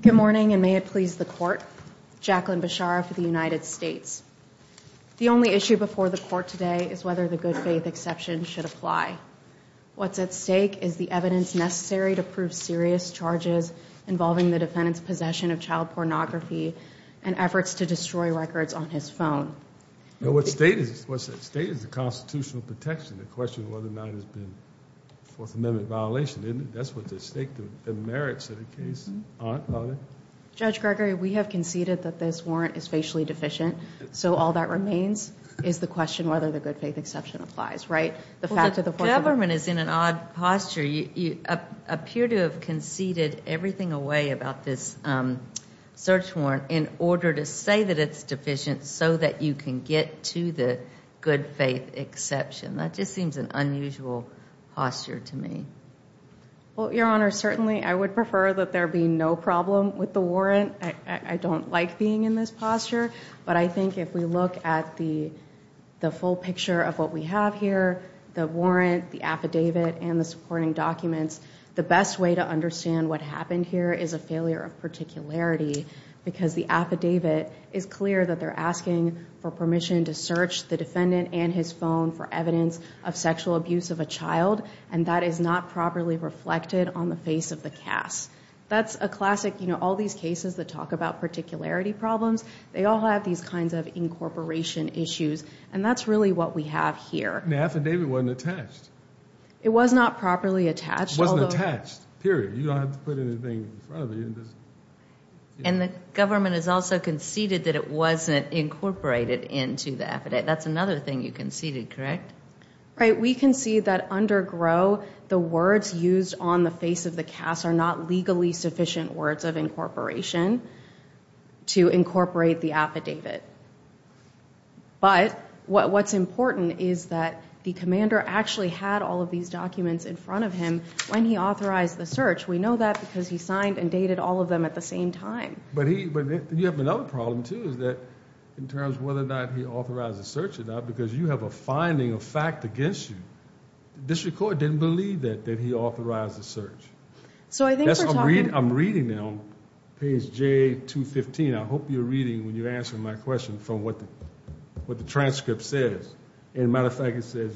Good morning and may it please the court. Jacqueline Beshara for the United States. The only issue before the court today is whether the good-faith exception should apply. What's at stake is the evidence necessary to prove serious charges involving the defendant's possession of child pornography and efforts to destroy records on his phone. What's at stake is the constitutional protection. The question is whether or not it has been a Fourth Amendment violation. That's what's at stake, the merits of the case. Judge Gregory, we have conceded that this warrant is facially deficient, so all that remains is the question whether the good-faith exception applies, right? The government is in an odd posture. You appear to have conceded everything away about this search warrant in order to say that it's deficient so that you can get to the good-faith exception. That just seems an unusual posture to me. Well, Your Honor, certainly I would prefer that there be no problem with the warrant. I don't like being in this posture, but I think if we look at the the full picture of what we have here, the warrant, the affidavit, and the supporting documents, the best way to understand what happened here is a failure of particularity because the affidavit is clear that they're asking for permission to search the defendant and his phone for evidence of sexual abuse of a child, and that is not properly reflected on the face of the cast. That's a classic, you know, all these cases that talk about particularity problems, they all have these kinds of incorporation issues, and that's really what we have here. The affidavit wasn't attached. It was not properly attached. It wasn't attached, period. You don't have to put anything in front of it. And the government has also conceded that it wasn't incorporated into the affidavit. That's another thing you conceded, correct? Right, we concede that under GRO, the words used on the face of the cast are not legally sufficient words of incorporation to incorporate the affidavit, but what's important is that the commander actually had all of these documents in front of him when he authorized the search. We know that because he signed and dated all of them at the same time. But you have another problem, too, is that in terms of whether or not he authorized the search or not, because you have a finding, a fact, against you, the district court didn't believe that he authorized the search. So I think I'm reading now, page J215, I hope you're reading when you're answering my question from what the transcript says. And as a matter of fact, it says,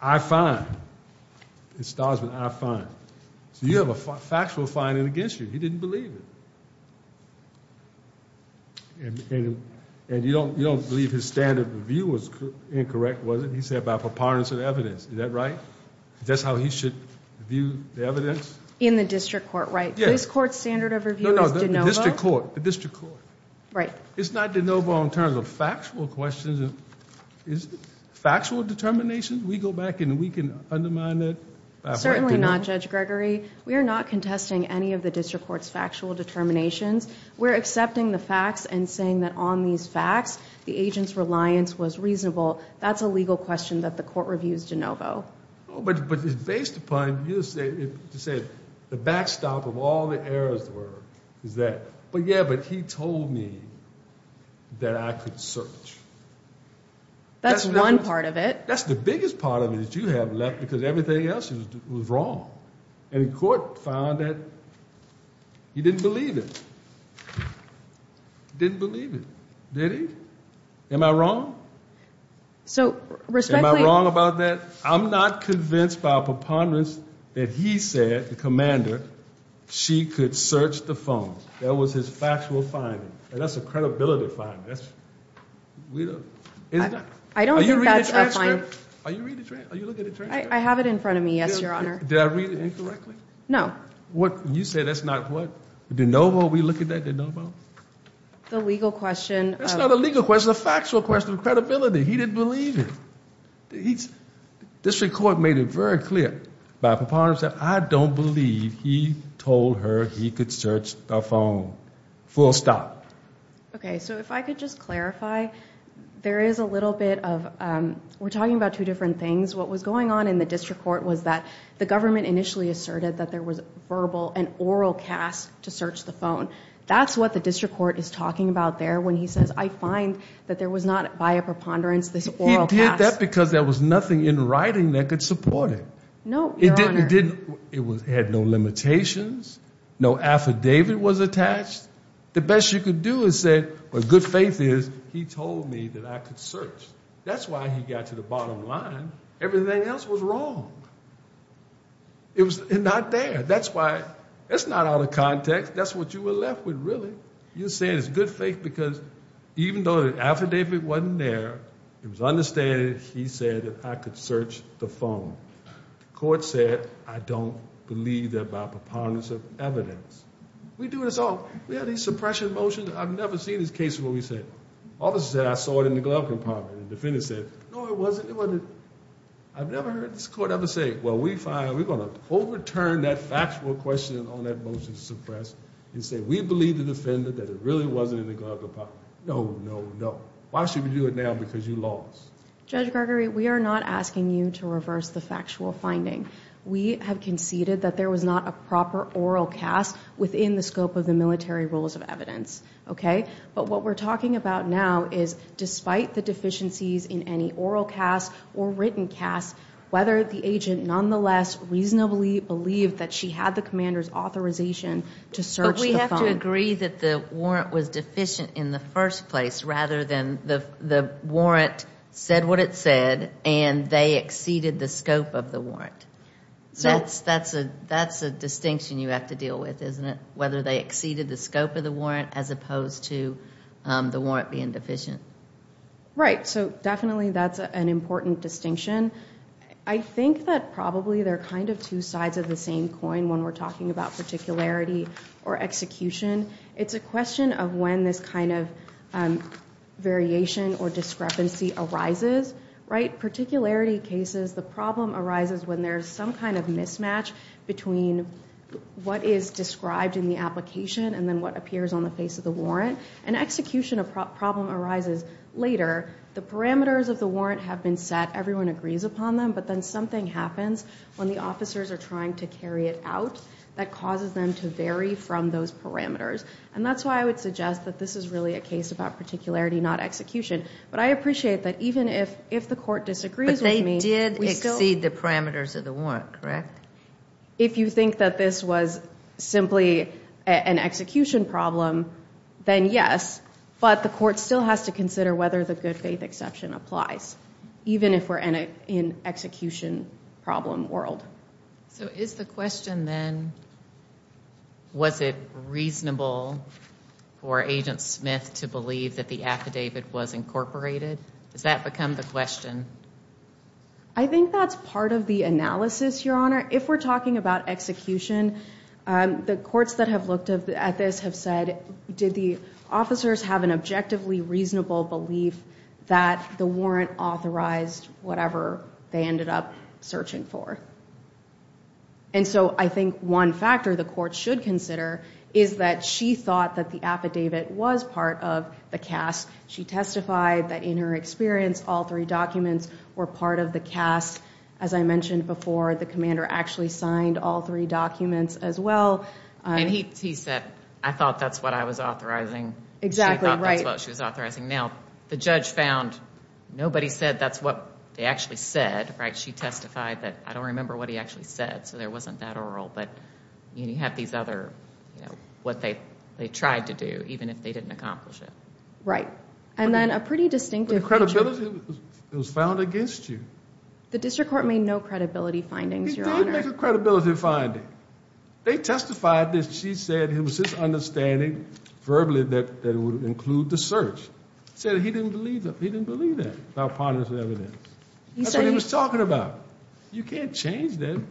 I find, in Stosman, I find. So you have a factual finding against you. He didn't believe it. And you don't believe his standard of review was incorrect, was it? He said by preponderance of evidence. Is that right? That's how he should view the evidence? In the district court, right? Yeah. This court's standard of review is de novo. No, no, the district court. The district court. Right. It's not de novo in terms of factual questions. Is it factual determination? We go back and we can undermine that? Certainly not, Judge Gregory. We are not contesting any of the court's factual determinations. We're accepting the facts and saying that on these facts, the agent's reliance was reasonable. That's a legal question that the court reviews de novo. But it's based upon, you said, the backstop of all the errors were, is that, but yeah, but he told me that I could search. That's one part of it. That's the biggest part of it that you have left, because everything else was wrong. And the court found that he didn't believe it. Didn't believe it. Did he? Am I wrong? So, respectfully... Am I wrong about that? I'm not convinced by preponderance that he said, the commander, she could search the phone. That was his factual finding. And that's a credibility finding. I don't think that's a finding. Are you reading the transcript? I have it in front of me, yes, your honor. Did I read it incorrectly? No. What, you said that's not what, de novo, we look at that, de novo? The legal question... That's not a legal question, a factual question, credibility. He didn't believe it. He's, this record made it very clear by preponderance that I don't believe he told her he could search the phone. Full stop. Okay, so if I could just clarify, there is a little bit of, we're talking about two different things. What was going on in the district court was that the government initially asserted that there was a verbal and oral cast to search the phone. That's what the district court is talking about there when he says, I find that there was not, by a preponderance, this oral cast. He did that because there was nothing in writing that could support it. No, your honor. It had no limitations, no affidavit was attached. The best you could do is say, with good faith is, he told me that I could search. That's why he got to the bottom line. Everything else was wrong. It was not there. That's why, that's not out of context. That's what you were left with, really. You're saying it's good faith because even though the affidavit wasn't there, it was understated, he said that I could search the phone. The court said, I don't believe that by preponderance of evidence. We do this all, we have these suppression motions. I've never seen this case where we say, officer said I saw it in the glove compartment and the defendant said, no it wasn't, it wasn't. I've never heard this court ever say, well we fine, we're going to overturn that factual question on that motion to suppress and say we believe the defendant that it really wasn't in the glove compartment. No, no, no. Why should we do it now because you lost? Judge Gregory, we are not asking you to reverse the factual finding. We have conceded that there was not a proper oral cast within the scope of the military rules of evidence. Okay? But what we're talking about now is despite the deficiencies in any oral cast or written cast, whether the agent nonetheless reasonably believed that she had the commander's authorization to search the phone. But we have to agree that the warrant was deficient in the first place rather than the warrant said what it said and they exceeded the scope of the warrant. That's a distinction you have to deal with, isn't it? Whether they exceeded the scope of the warrant as opposed to the warrant being deficient. Right. So definitely that's an important distinction. I think that probably they're kind of two sides of the same coin when we're talking about particularity or execution. It's a question of when this kind of variation or discrepancy arises. Right? Particularity cases, the problem arises when there's some kind of mismatch between what is described in the application and then what appears on the face of the warrant. An execution problem arises later. The parameters of the warrant have been set. Everyone agrees upon them. But then something happens when the officers are trying to carry it out that causes them to vary from those parameters. And that's why I would suggest that this is really a case about particularity, not execution. But I appreciate that even if the court disagrees with me, we still... But they did exceed the parameters of the warrant, correct? If you think that this was simply an execution problem, then yes. But the court still has to consider whether the good faith exception applies, even if we're in an execution problem world. So is the question then, was it reasonable for Agent Smith to believe that the affidavit was incorporated? Does that become the question? I think that's part of the analysis, Your Honor. If we're talking about execution, the courts that have looked at this have said, did the officers have an objectively reasonable belief that the warrant authorized whatever they ended up searching for? And so I think one factor the court should consider is that she thought that the affidavit was part of the cast. She testified that in her experience, all three documents were part of the cast. As I mentioned before, the commander actually signed all three documents as well. And he said, I thought that's what I was authorizing. Exactly, right. Well, she was authorizing. Now, the judge found nobody said that's what they actually said, right? She testified that I don't remember what he actually said, so there wasn't that oral. But you have these other, you know, what they tried to do, even if they didn't accomplish it. Right. And then a pretty distinctive- But the credibility was found against you. The district court made no credibility findings, Your Honor. He did make a credibility finding. They testified that she said it was his understanding verbally that it would include the search. He said he didn't believe that. That's what he was talking about. You can't change that.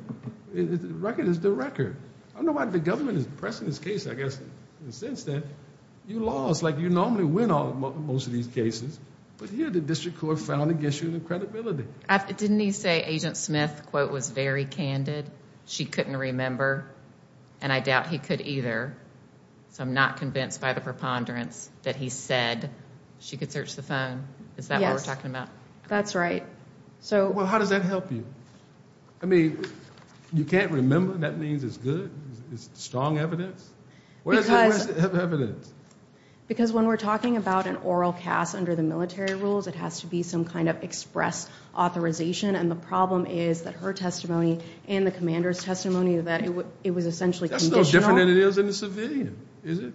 The record is the record. I don't know why the government is pressing this case, I guess, in the sense that you lost, like you normally win most of these cases, but here the district court found against you the credibility. Didn't he say Agent Smith, quote, was very candid? She couldn't remember, and I doubt he could either, so I'm not convinced by the preponderance that he said she could search the phone. Yes. Is that what we're talking about? That's right. Well, how does that help you? I mean, you can't remember? That means it's good? It's strong evidence? Because- Where's the rest of the evidence? Because when we're talking about an oral cast under the military rules, it has to be some kind of express authorization, and the problem is that her testimony and the commander's testimony that it was essentially conditional. Well, it's different than it is in the civilian, is it?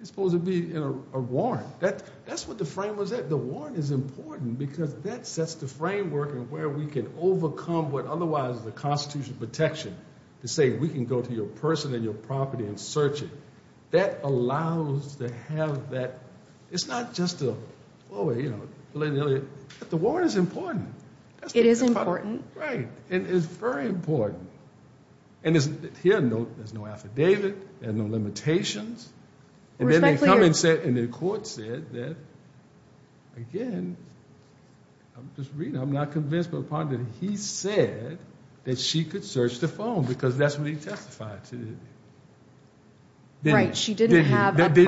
It's supposed to be in a warrant. That's what the frame was at. The warrant is important because that sets the framework where we can overcome what otherwise is a constitutional protection, to say we can go to your person and your property and search it. That allows to have that. It's not just a, oh, you know, but the warrant is important. It is important. Right, and it's very important. Here, there's no affidavit, there's no limitations, and then they come and say, and the court said that, again, I'm just reading, I'm not convinced, but apparently he said that she could search the phone because that's what he testified to. Right, she didn't have a proper- He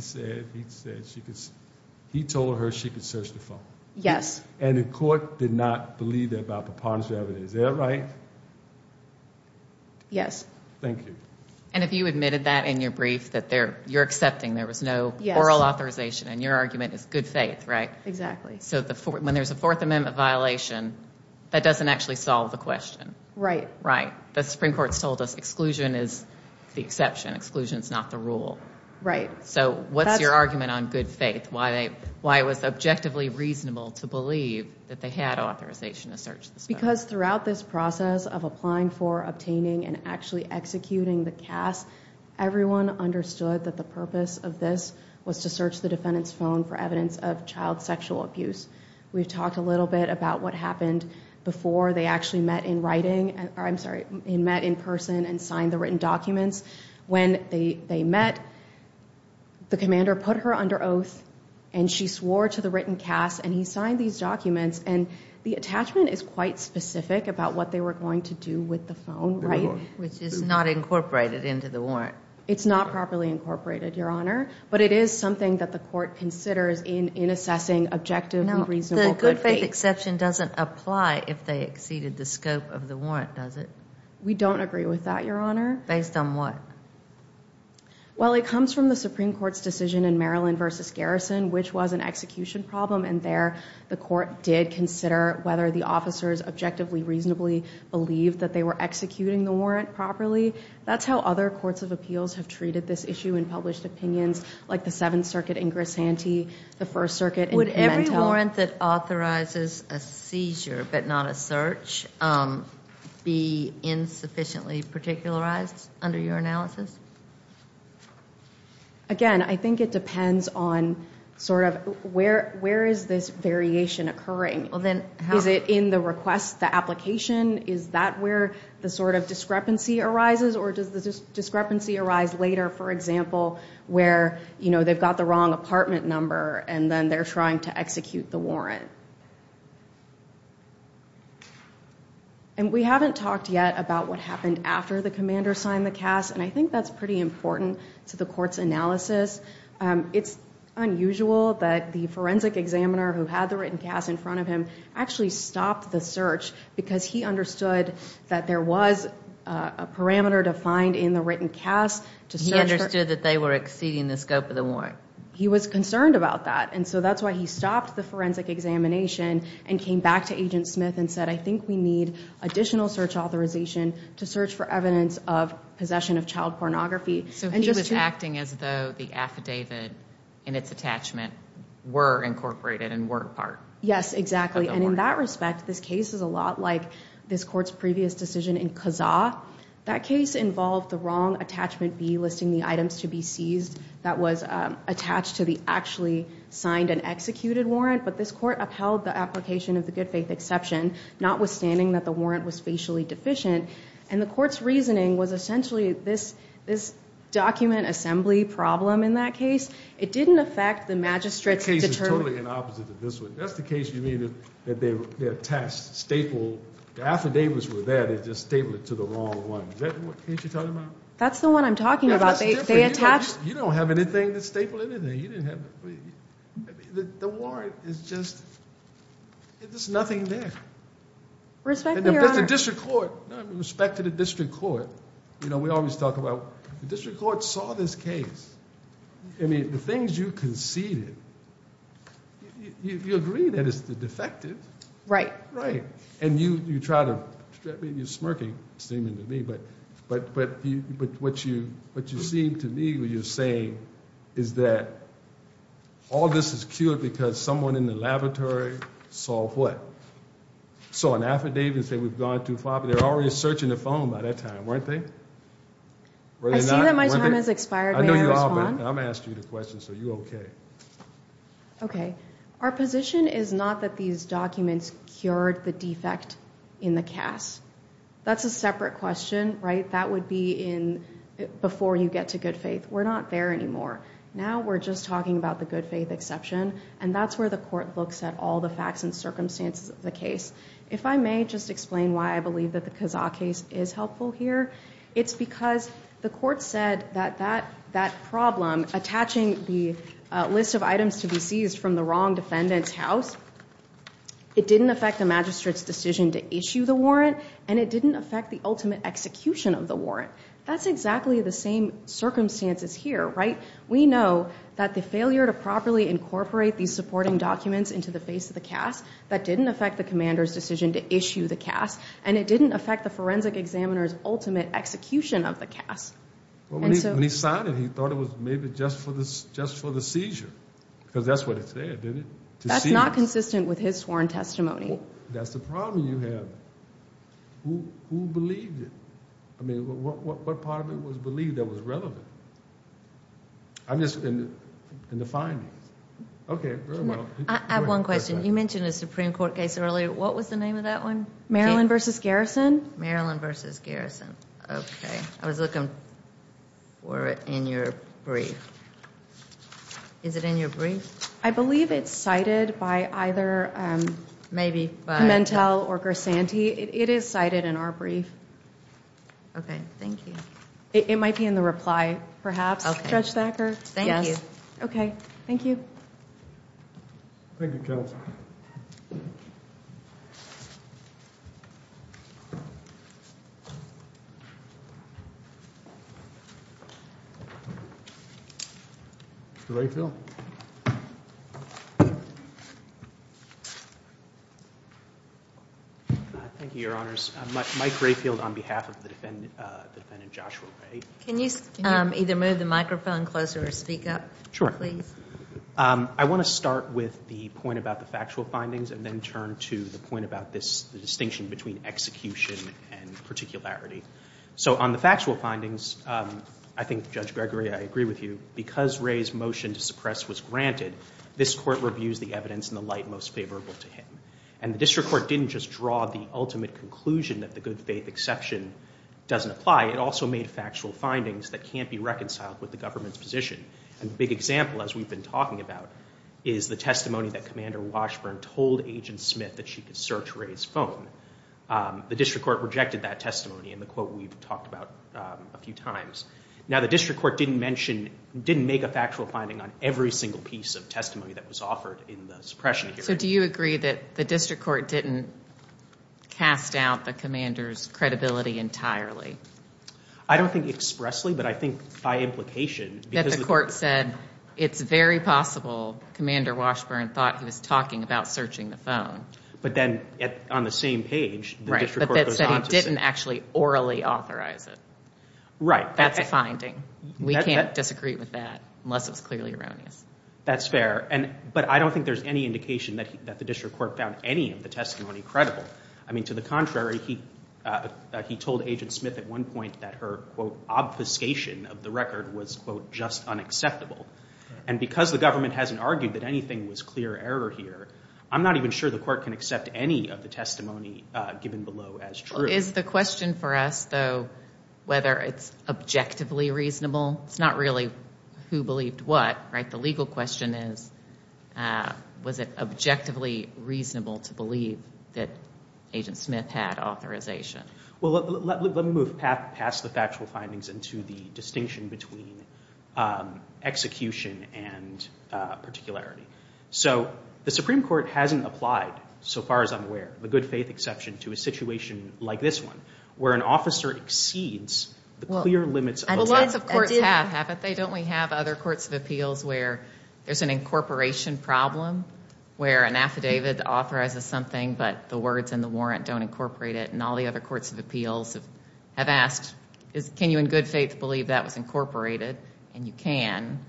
said she could, he told her she could search the phone. Yes. And the court did not believe that by preponderance of evidence. Is that right? Yes. Thank you. And if you admitted that in your brief, that you're accepting there was no oral authorization, and your argument is good faith, right? Exactly. So when there's a Fourth Amendment violation, that doesn't actually solve the question. Right. Right. The Supreme Court's told us exclusion is the exception, exclusion's not the rule. Right. So what's your argument on good faith, why it was objectively reasonable to believe that they had authorization to search the phone? Because throughout this process of applying for, obtaining, and actually executing the CAS, everyone understood that the purpose of this was to search the defendant's phone for evidence of child sexual abuse. We've talked a little bit about what happened before they actually met in writing, or I'm sorry, met in person and signed the written documents. When they met, the commander put her under oath, and she swore to the written CAS, and he signed these documents. And the attachment is quite specific about what they were going to do with the phone, right? Which is not incorporated into the warrant. It's not properly incorporated, Your Honor. But it is something that the court considers in assessing objective and reasonable good faith. Now, the good faith exception doesn't apply if they exceeded the scope of the warrant, does it? We don't agree with that, Your Honor. Based on what? Well, it comes from the Supreme Court's decision in Maryland v. Garrison, which was an execution problem, and there the court did consider whether the officers objectively, reasonably believed that they were executing the warrant properly. That's how other courts of appeals have treated this issue in published opinions, like the Seventh Circuit in Grisanti, the First Circuit in Pimentel. Can a warrant that authorizes a seizure, but not a search, be insufficiently particularized under your analysis? Again, I think it depends on sort of where is this variation occurring? Is it in the request, the application? Is that where the sort of discrepancy arises? Or does the discrepancy arise later, for example, where, you know, they've got the wrong apartment number, and then they're trying to execute the warrant? And we haven't talked yet about what happened after the commander signed the CAS, and I think that's pretty important to the court's analysis. It's unusual that the forensic examiner who had the written CAS in front of him actually stopped the search, because he understood that there was a parameter defined in the written CAS to search for... He understood that they were exceeding the scope of the warrant. He was concerned about that, and so that's why he stopped the forensic examination and came back to Agent Smith and said, I think we need additional search authorization to search for evidence of possession of child pornography. So he was acting as though the affidavit and its attachment were incorporated and were a part of the warrant. Yes, exactly. And in that respect, this case is a lot like this court's previous decision in Kazaa. That case involved the wrong attachment B, listing the items to be seized, that was attached to the actually signed and executed warrant, but this court upheld the application of the good faith exception, notwithstanding that the warrant was facially deficient. And the court's reasoning was essentially this document assembly problem in that case. It didn't affect the magistrate's determined... The case is totally the opposite of this one. That's the case you mean that they attached the affidavits were there, they just stapled it to the wrong one. Isn't that what you're talking about? That's the one I'm talking about, they attached... You don't have anything to staple anything, you didn't have... The warrant is just, there's nothing there. Respectfully, Your Honor... But the district court, respect to the district court, we always talk about the district court saw this case, I mean, the things you conceded, you agree that it's the defective... Right. And you try to, you're smirking, seeming to me, but what you seem to me what you're saying is that all this is cured because someone in the laboratory saw what? Saw an affidavit and said we've gone too far, but they're already searching the phone by that time, weren't they? I see that my time has expired, may I respond? I know you are, but I'm asking you the question, so you're okay. Okay, our position is not that these documents cured the defect in the CAS. That's a separate question, right? That would be in, before you get to good faith, we're not there anymore. Now we're just talking about the good faith exception, and that's where the court looks at all the facts and circumstances of the case. If I may just explain why I believe that the Kazaa case is helpful here, it's because the court said that that problem, attaching the list of items to be seized from the wrong defendant's house, it didn't affect the magistrate's decision to issue the warrant, and it didn't affect the ultimate execution of the warrant. That's exactly the same circumstances here, right? We know that the failure to properly incorporate these supporting documents into the face of the CAS, that didn't affect the commander's decision to issue the CAS, and it didn't affect the forensic examiner's ultimate execution of the CAS. When he signed it, he thought it was maybe just for the seizure, because that's what it said, didn't it? To seize. That's not consistent with his sworn testimony. That's the problem you have. Who believed it? I mean, what part of it was believed that was relevant? I'm just, in the findings. Okay, very well. I have one question. You mentioned a Supreme Court case earlier. What was the name of that one? Maryland v. Garrison. Maryland v. Garrison. Okay. I was looking for it in your brief. Is it in your brief? I believe it's cited by either Pimentel or Gersanti. It is cited in our brief. Okay, thank you. It might be in the reply, perhaps, Judge Thacker. Thank you. Okay, thank you. Thank you, Counsel. Mr. Rayfield? Thank you, Your Honors. Mike Rayfield on behalf of the defendant, Joshua Ray. Can you either move the microphone closer or speak up, please? I want to start with the point about the factual findings and then turn to the point about this distinction between execution and particularity. So on the factual findings, I think, Judge Gregory, I agree with you. Because Ray's motion to suppress was granted, this Court reviews the evidence in the light most favorable to him. And the District Court didn't just draw the ultimate conclusion that the good faith exception doesn't apply. It also made factual findings that can't be reconciled with the government's position. A big example, as we've been talking about, is the testimony that Commander Washburn told Agent Smith that she could search Ray's phone. The District Court rejected that testimony in the quote we've talked about a few times. Now the District Court didn't mention, didn't make a factual finding on every single piece of testimony that was offered in the suppression hearing. So do you agree that the District Court didn't cast out the commander's credibility entirely? I don't think expressly, but I think by implication. That the Court said, it's very possible Commander Washburn thought he was talking about searching the phone. But then on the same page, the District Court goes on to say... Right, but that said it didn't actually orally authorize it. Right. That's a finding. We can't disagree with that unless it was clearly erroneous. That's fair. But I don't think there's any indication that the District Court found any of the testimony credible. I mean, to the contrary, he told Agent Smith at one point that her quote obfuscation of the record was quote just unacceptable. And because the government hasn't argued that anything was clear error here, I'm not even sure the Court can accept any of the testimony given below as true. Is the question for us though, whether it's objectively reasonable? It's not really who believed what, right? The legal question is, was it objectively reasonable to believe that Agent Smith had authorization? Well, let me move past the factual findings into the distinction between execution and particularity. So the Supreme Court hasn't applied, so far as I'm aware, the good faith exception to a situation like this one, where an officer exceeds the clear limits of the law. Well, lots of courts have, haven't they? Don't we have other courts of appeals where there's an incorporation problem, where an affidavit authorizes something, but the words in the warrant don't incorporate it? And all the other courts of appeals have asked, can you in good faith believe that was incorporated? And you can.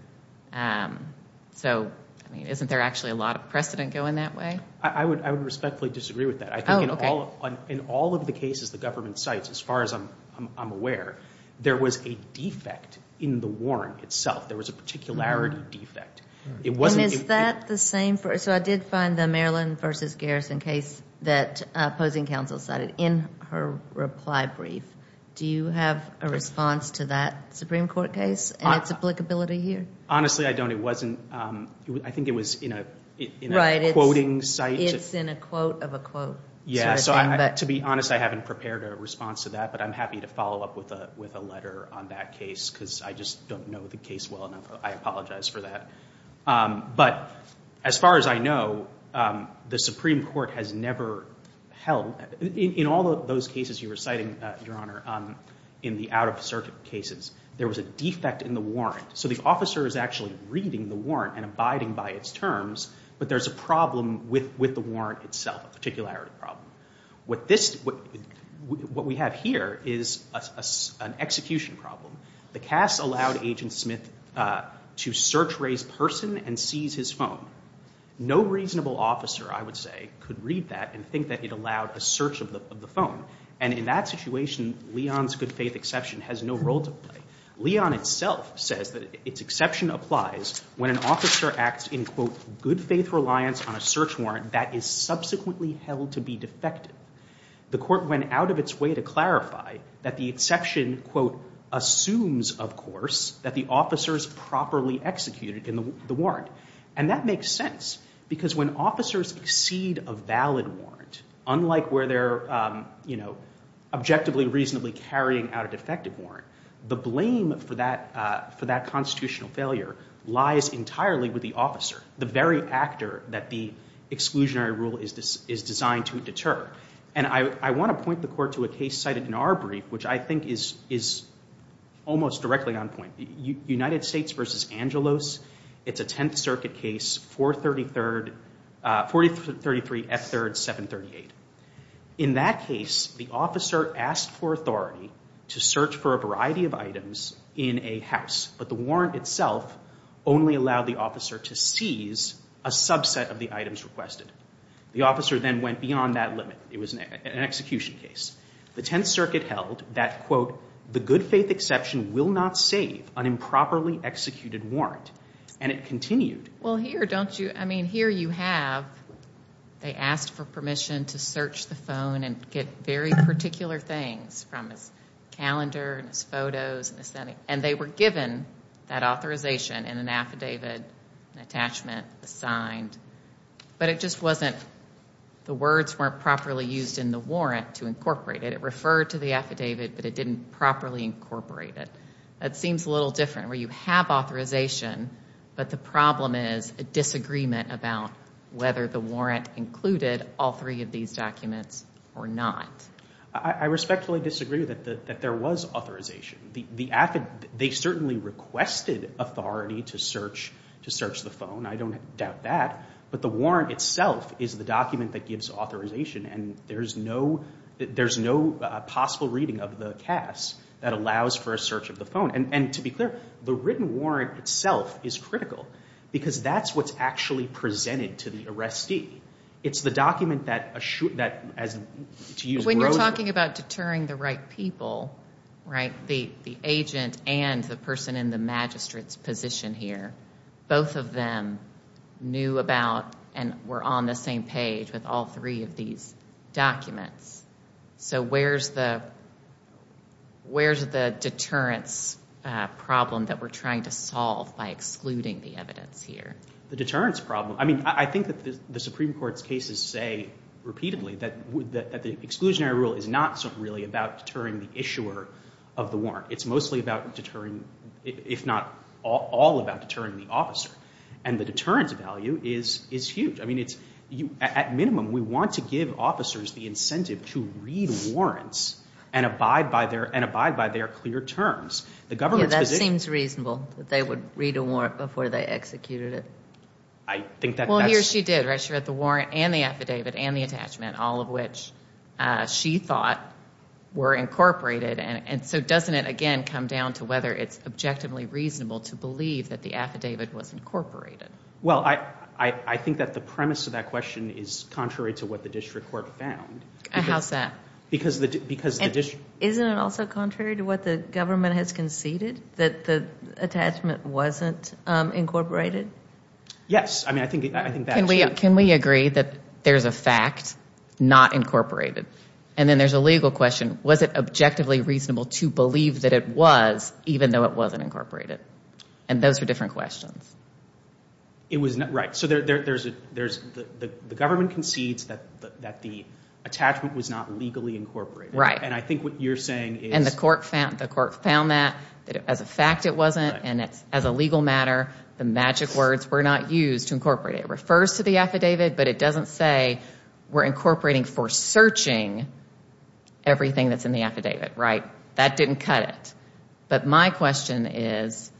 So, I mean, isn't there actually a lot of precedent going that way? I would respectfully disagree with that. I think in all of the cases the government cites, as far as I'm aware, there was a defect in the warrant itself. There was a particularity defect. It wasn't... And is that the same for... So I did find the Maryland v. Garrison case that opposing counsel cited in her reply brief. Do you have a response to that Supreme Court case and its applicability here? Honestly, I don't. It wasn't... I think it was in a... Right. ...quoting site. It's in a quote of a quote sort of thing, but... Yeah, so to be honest, I haven't prepared a response to that, but I'm happy to follow up with a letter on that case, because I just don't know the case well enough. I apologize for that. But as far as I know, the Supreme Court has never held... In all of those cases you were citing, Your Honor, in the out-of-circuit cases, there was a defect in the warrant. So the officer is actually reading the warrant and abiding by its terms, but there's a problem with the warrant itself, a particularity problem. What this... What we have here is an execution problem. The CAS allowed Agent Smith to search Ray's person and seize his phone. No reasonable officer, I would say, could read that and think that it allowed a search of the phone. And in that situation, Leon's good faith exception has no role to play. Leon itself says that its exception applies when an officer acts in, quote, good faith reliance on a search warrant that is subsequently held to be defective. The court went out of its way to clarify that the exception, quote, assumes, of course, that the officer is properly executed in the warrant. And that makes sense, because when officers exceed a valid warrant, unlike where they're, you know, objectively reasonably carrying out a defective warrant, the blame for that constitutional failure lies entirely with the officer, the very actor that the exclusionary rule is designed to deter. And I want to point the court to a case cited in our brief, which I think is almost directly on point. United States v. Angelos. It's a Tenth Circuit case, 433 F. 3rd, 738. In that case, the officer asked for authority to search for a variety of items in a house, but the warrant itself only allowed the officer to seize a subset of the items requested. The officer then went beyond that limit. It was an execution case. The Tenth Circuit held that, quote, the good faith exception will not save an improperly executed warrant. And it continued. Well, here, don't you, I mean, here you have, they asked for permission to search the phone and get very particular things from his calendar and his photos and his, and they were given that authorization and an affidavit, an attachment, a sign, but it just wasn't, the words weren't properly used in the warrant to incorporate it. It referred to the affidavit, but it didn't properly incorporate it. That seems a little different where you have authorization, but the problem is a disagreement about whether the warrant included all three of these documents or not. I respectfully disagree that there was authorization. The affidavit, they certainly requested authority to search, to search the phone. I don't doubt that. But the warrant itself is the document that gives authorization and there's no, there's no possible reading of the CAS that allows for a search of the phone. And to be clear, the written warrant itself is critical because that's what's actually presented to the arrestee. It's the document that, that, as, to use... When you're talking about deterring the right people, right, the, the agent and the person in the magistrate's position here, both of them knew about and were on the same page with all three of these documents. So where's the, where's the deterrence problem that we're trying to solve by excluding the evidence here? The deterrence problem. I mean, I think that the Supreme Court's cases say repeatedly that the exclusionary rule is not really about deterring the issuer of the warrant. It's mostly about deterring, if not all about deterring the officer. And the deterrence value is, is huge. I mean, it's, at minimum, we want to give officers the incentive to read warrants and abide by their, and abide by their clear terms. The government's position... Yeah, that seems reasonable, that they would read a warrant before they executed it. I think that that's... Well, he or she did, right? She read the warrant and the affidavit and the attachment, all of which she thought were incorporated and, and so doesn't it, again, come down to whether it's objectively reasonable to believe that the affidavit was incorporated? Well, I, I, I think that the premise of that question is contrary to what the district court found. How's that? Because the, because the district... Isn't it also contrary to what the government has conceded? That the attachment wasn't incorporated? Yes. I mean, I think, I think that... Can we, can we agree that there's a fact, not incorporated? And then there's a legal question. Was it objectively reasonable to believe that it was, even though it wasn't incorporated? And those are different questions. It was not... Right. So there, there, there's a, there's, the, the, the government concedes that, that the attachment was not legally incorporated. Right. And I think what you're saying is... Right. ...is that the court found, the court found that, that as a fact it wasn't, and it's, as a legal matter, the magic words were not used to incorporate it. It refers to the affidavit, but it doesn't say we're incorporating for searching everything that's in the affidavit, right? That didn't cut it. But my question is,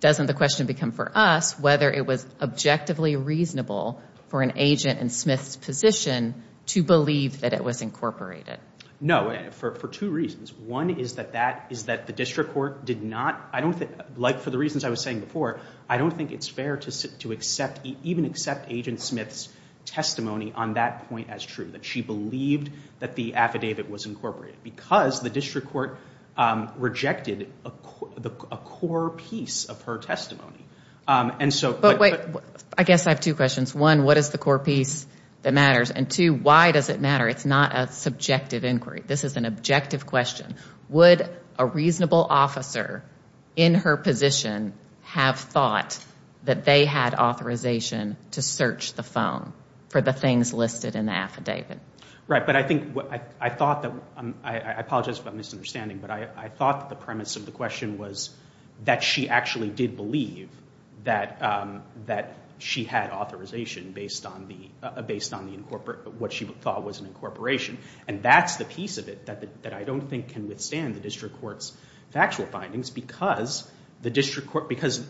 doesn't the question become for us whether it was objectively reasonable for an agent in Smith's position to believe that it was incorporated? No. For, for two reasons. One is that that, is that the district court did not, I don't think, like for the reasons I was saying before, I don't think it's fair to, to accept, even accept agent Smith's testimony on that point as true, that she believed that the affidavit was incorporated because the district court rejected a core piece of her testimony. And so... But wait, I guess I have two questions. One, what is the core piece that matters? And two, why does it matter? It's not a subjective inquiry. This is an objective question. Would a reasonable officer in her position have thought that they had authorization to search the phone for the things listed in the affidavit? Right. But I think what I thought that, I apologize for my misunderstanding, but I thought that the premise of the question was that she actually did believe that, that she had authorization based on the, based on the incorporate, what she thought was an incorporation. And that's the piece of it that, that I don't think can withstand the district court's factual findings because the district court, because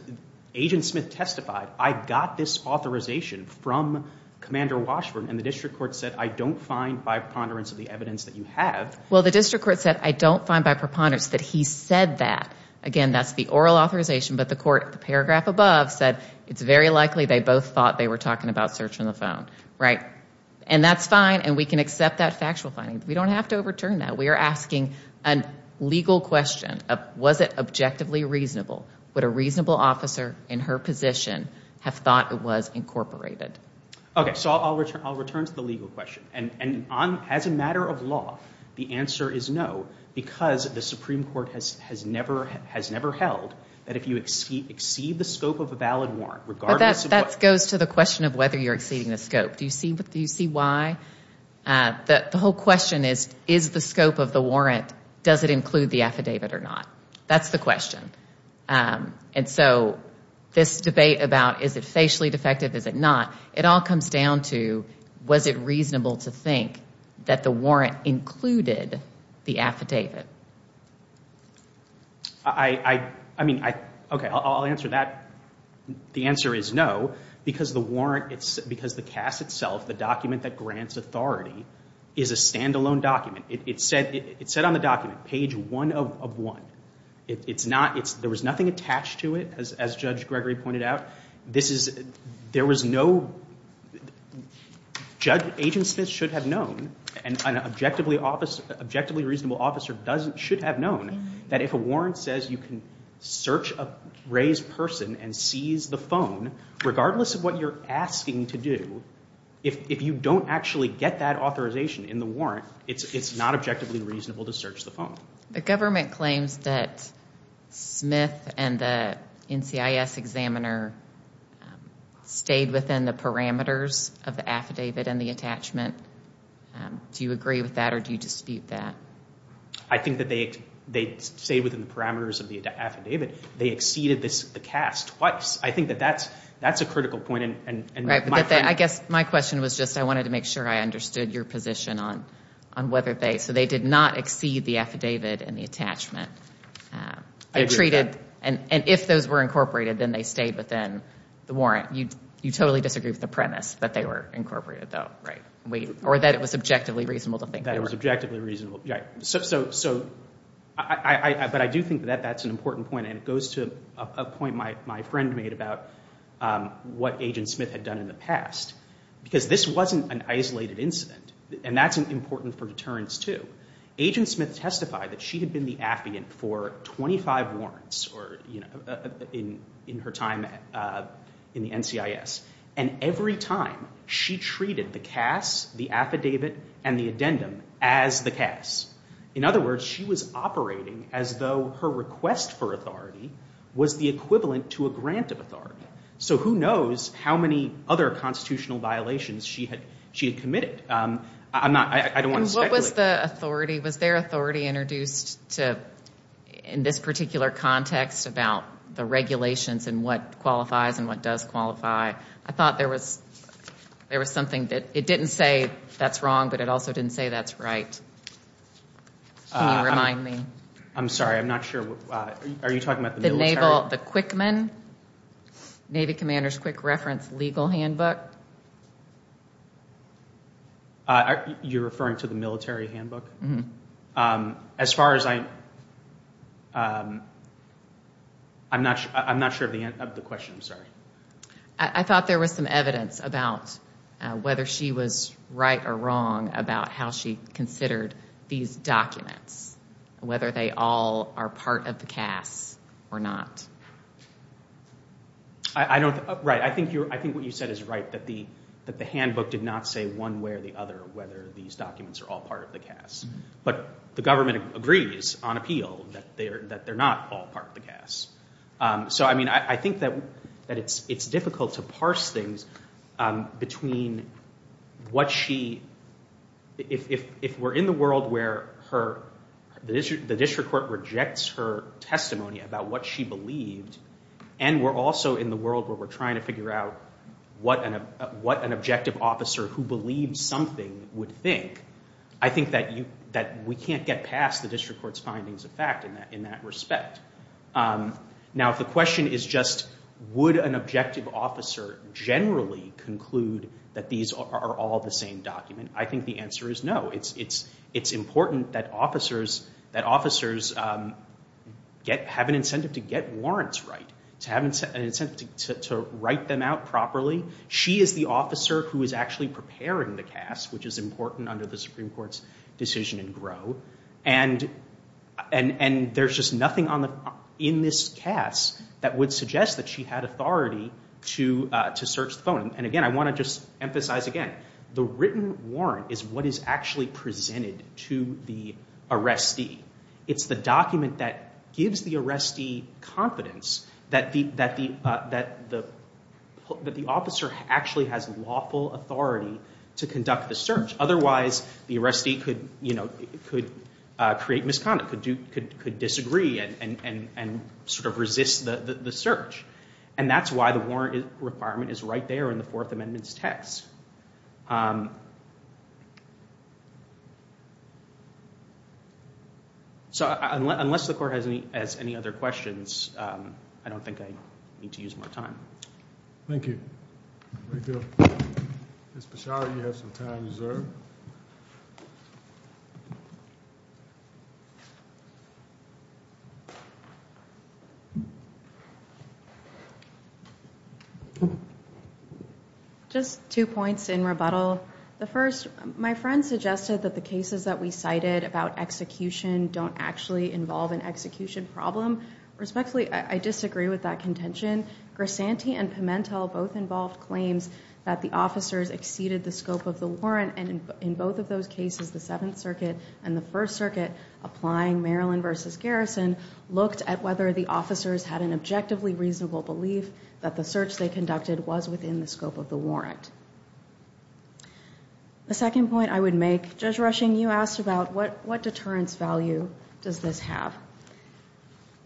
agent Smith testified, I got this authorization from Commander Washburn and the district court said, I don't find by preponderance of the evidence that you have. Well, the district court said, I don't find by preponderance that he said that, again, that's the oral authorization, but the court, the paragraph above said, it's very likely they both thought they were talking about searching the phone, right? And that's fine. And we can accept that factual finding. We don't have to overturn that. We are asking a legal question of, was it objectively reasonable? Would a reasonable officer in her position have thought it was incorporated? Okay. So I'll return, I'll return to the legal question and, and on, as a matter of law, the answer is no, because the Supreme Court has, has never, has never held that if you exceed, exceed the scope of a valid warrant, regardless of what. That goes to the question of whether you're exceeding the scope. Do you see what, do you see why? The whole question is, is the scope of the warrant, does it include the affidavit or not? That's the question. And so this debate about, is it facially defective, is it not? It all comes down to, was it reasonable to think that the warrant included the affidavit? I mean, I, okay, I'll answer that. The answer is no, because the warrant, it's, because the CAS itself, the document that grants authority, is a standalone document. It said, it said on the document, page one of, of one. It's not, it's, there was nothing attached to it, as, as Judge Gregory pointed out. This is, there was no, Judge, Agent Smith should have known, and an objectively officer, objectively reasonable officer doesn't, should have known, that if a warrant says you can search a raised person and seize the phone, regardless of what you're asking to do, if, if you don't actually get that authorization in the warrant, it's, it's not objectively reasonable to search the phone. The government claims that Smith and the NCIS examiner stayed within the parameters of the affidavit and the attachment. Do you agree with that, or do you dispute that? I think that they, they stayed within the parameters of the affidavit. They exceeded this, the CAS twice. I think that that's, that's a critical point, and, and, and my point. I guess my question was just, I wanted to make sure I understood your position on, on whether they, so they did not exceed the affidavit and the attachment. I agree with that. They treated, and, and if those were incorporated, then they stayed within the warrant. You, you totally disagree with the premise that they were incorporated, though, right? We, or that it was objectively reasonable to think they were. It was objectively reasonable, yeah. So, so, so I, I, I, but I do think that that's an important point, and it goes to a, a point my, my friend made about what Agent Smith had done in the past. Because this wasn't an isolated incident, and that's important for deterrence too. Agent Smith testified that she had been the affidavit for 25 warrants or, you know, in, in her time in the NCIS, and every time she treated the CAS, the affidavit, and the addendum as the CAS. In other words, she was operating as though her request for authority was the equivalent to a grant of authority. So who knows how many other constitutional violations she had, she had committed. I'm not, I, I don't want to speculate. And what was the authority, was their authority introduced to, in this particular context about the regulations and what qualifies and what does qualify? I thought there was, there was something that, it didn't say that's wrong, but it also didn't say that's right. Can you remind me? I'm sorry, I'm not sure, are you talking about the military? The Naval, the Quickman, Navy Commander's Quick Reference Legal Handbook. You're referring to the military handbook? As far as I, I'm not, I'm not sure of the, of the question, I'm sorry. I thought there was some evidence about whether she was right or wrong about how she considered these documents, whether they all are part of the CAS or not. I don't, right, I think you're, I think what you said is right, that the, that the handbook did not say one way or the other whether these documents are all part of the CAS. But the government agrees on appeal that they're, that they're not all part of the CAS. So I mean, I think that, that it's, it's difficult to parse things between what she, if, if we're in the world where her, the district court rejects her testimony about what she believed, and we're also in the world where we're trying to figure out what an, what an objective officer who believed something would think, I think that you, that we can't get past the district court's findings of fact in that, in that respect. Now if the question is just would an objective officer generally conclude that these are all the same document, I think the answer is no. It's, it's, it's important that officers, that officers get, have an incentive to get warrants right, to have an incentive to, to write them out properly. She is the officer who is actually preparing the CAS, which is important under the Supreme Court's decision in GROW, and, and, and there's just nothing on the, in this CAS that would suggest that she had authority to, to search the phone. And again, I want to just emphasize again, the written warrant is what is actually presented to the arrestee. It's the document that gives the arrestee confidence that the, that the, that the, that the officer actually has lawful authority to conduct the search. Otherwise, the arrestee could, you know, could create misconduct, could do, could, could disagree and, and, and, and sort of resist the, the, the search. And that's why the warrant requirement is right there in the Fourth Amendment's text. So unless the court has any, has any other questions, I don't think I need to use more time. Thank you. Thank you. Ms. Pachauri, you have some time reserved. Just two points in rebuttal. The first, my friend suggested that the cases that we cited about execution don't actually involve an execution problem. Respectfully, I disagree with that contention. Grisanti and Pimentel both involved claims that the officers exceeded the scope of the warrant. And in both of those cases, the Seventh Circuit and the First Circuit applying Maryland versus Garrison looked at whether the officers had an objectively reasonable belief that the search they conducted was within the scope of the warrant. The second point I would make, Judge Rushing, you asked about what, what deterrence value does this have?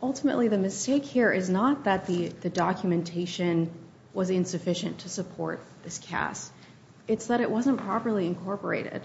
Ultimately, the mistake here is not that the documentation was insufficient to support this cast. It's that it wasn't properly incorporated.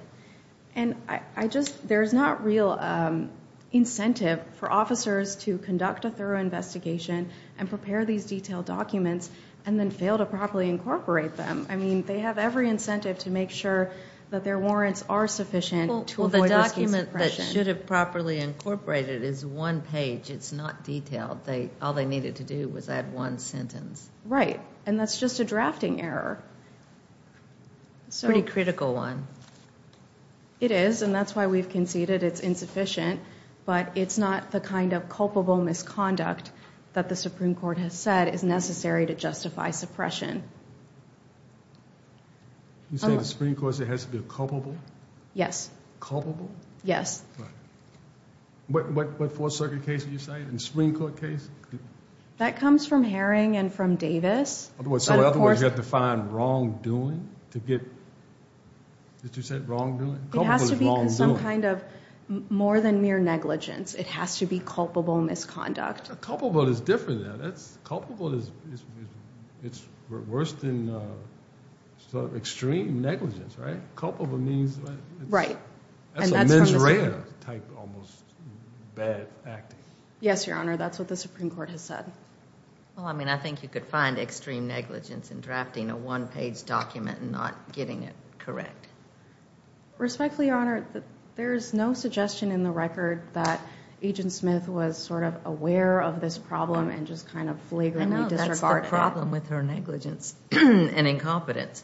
And I just, there's not real incentive for officers to conduct a thorough investigation and prepare these detailed documents and then fail to properly incorporate them. I mean, they have every incentive to make sure that their warrants are sufficient to avoid risk of suppression. All that should have properly incorporated is one page. It's not detailed. They, all they needed to do was add one sentence. Right. And that's just a drafting error. Pretty critical one. It is. And that's why we've conceded it's insufficient. But it's not the kind of culpable misconduct that the Supreme Court has said is necessary to justify suppression. You're saying the Supreme Court said it has to be culpable? Yes. Culpable? Yes. Right. What Fourth Circuit case did you say? In the Supreme Court case? That comes from Herring and from Davis. So in other words, you have to find wrongdoing to get, did you say wrongdoing? Culpable is wrongdoing. It has to be some kind of more than mere negligence. It has to be culpable misconduct. Culpable is different now. That's, culpable is, it's worse than sort of extreme negligence, right? Culpable means... Right. That's a mens rea type almost bad acting. Yes, Your Honor. That's what the Supreme Court has said. Well, I mean, I think you could find extreme negligence in drafting a one-page document and not getting it correct. Respectfully, Your Honor, there is no suggestion in the record that Agent Smith was sort of aware of this problem and just kind of flagrantly disregarded it. I know. That's the problem with her negligence and incompetence.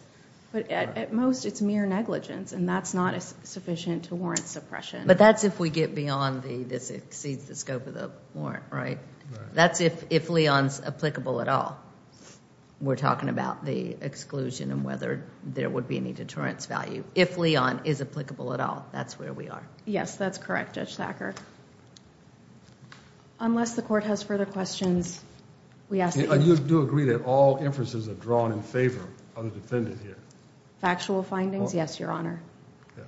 But at most, it's mere negligence and that's not sufficient to warrant suppression. But that's if we get beyond the, this exceeds the scope of the warrant, right? That's if Leon's applicable at all. We're talking about the exclusion and whether there would be any deterrence value. If Leon is applicable at all, that's where we are. Yes, that's correct, Judge Thacker. Unless the court has further questions, we ask that you... Factual findings? Yes, Your Honor. Yeah.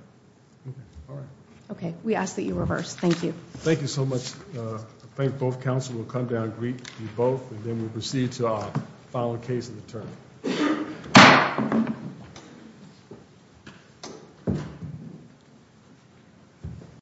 Okay. All right. Okay. We ask that you reverse. Thank you. Thank you so much. I think both counsel will come down and greet you both and then we'll proceed to our final case of the term.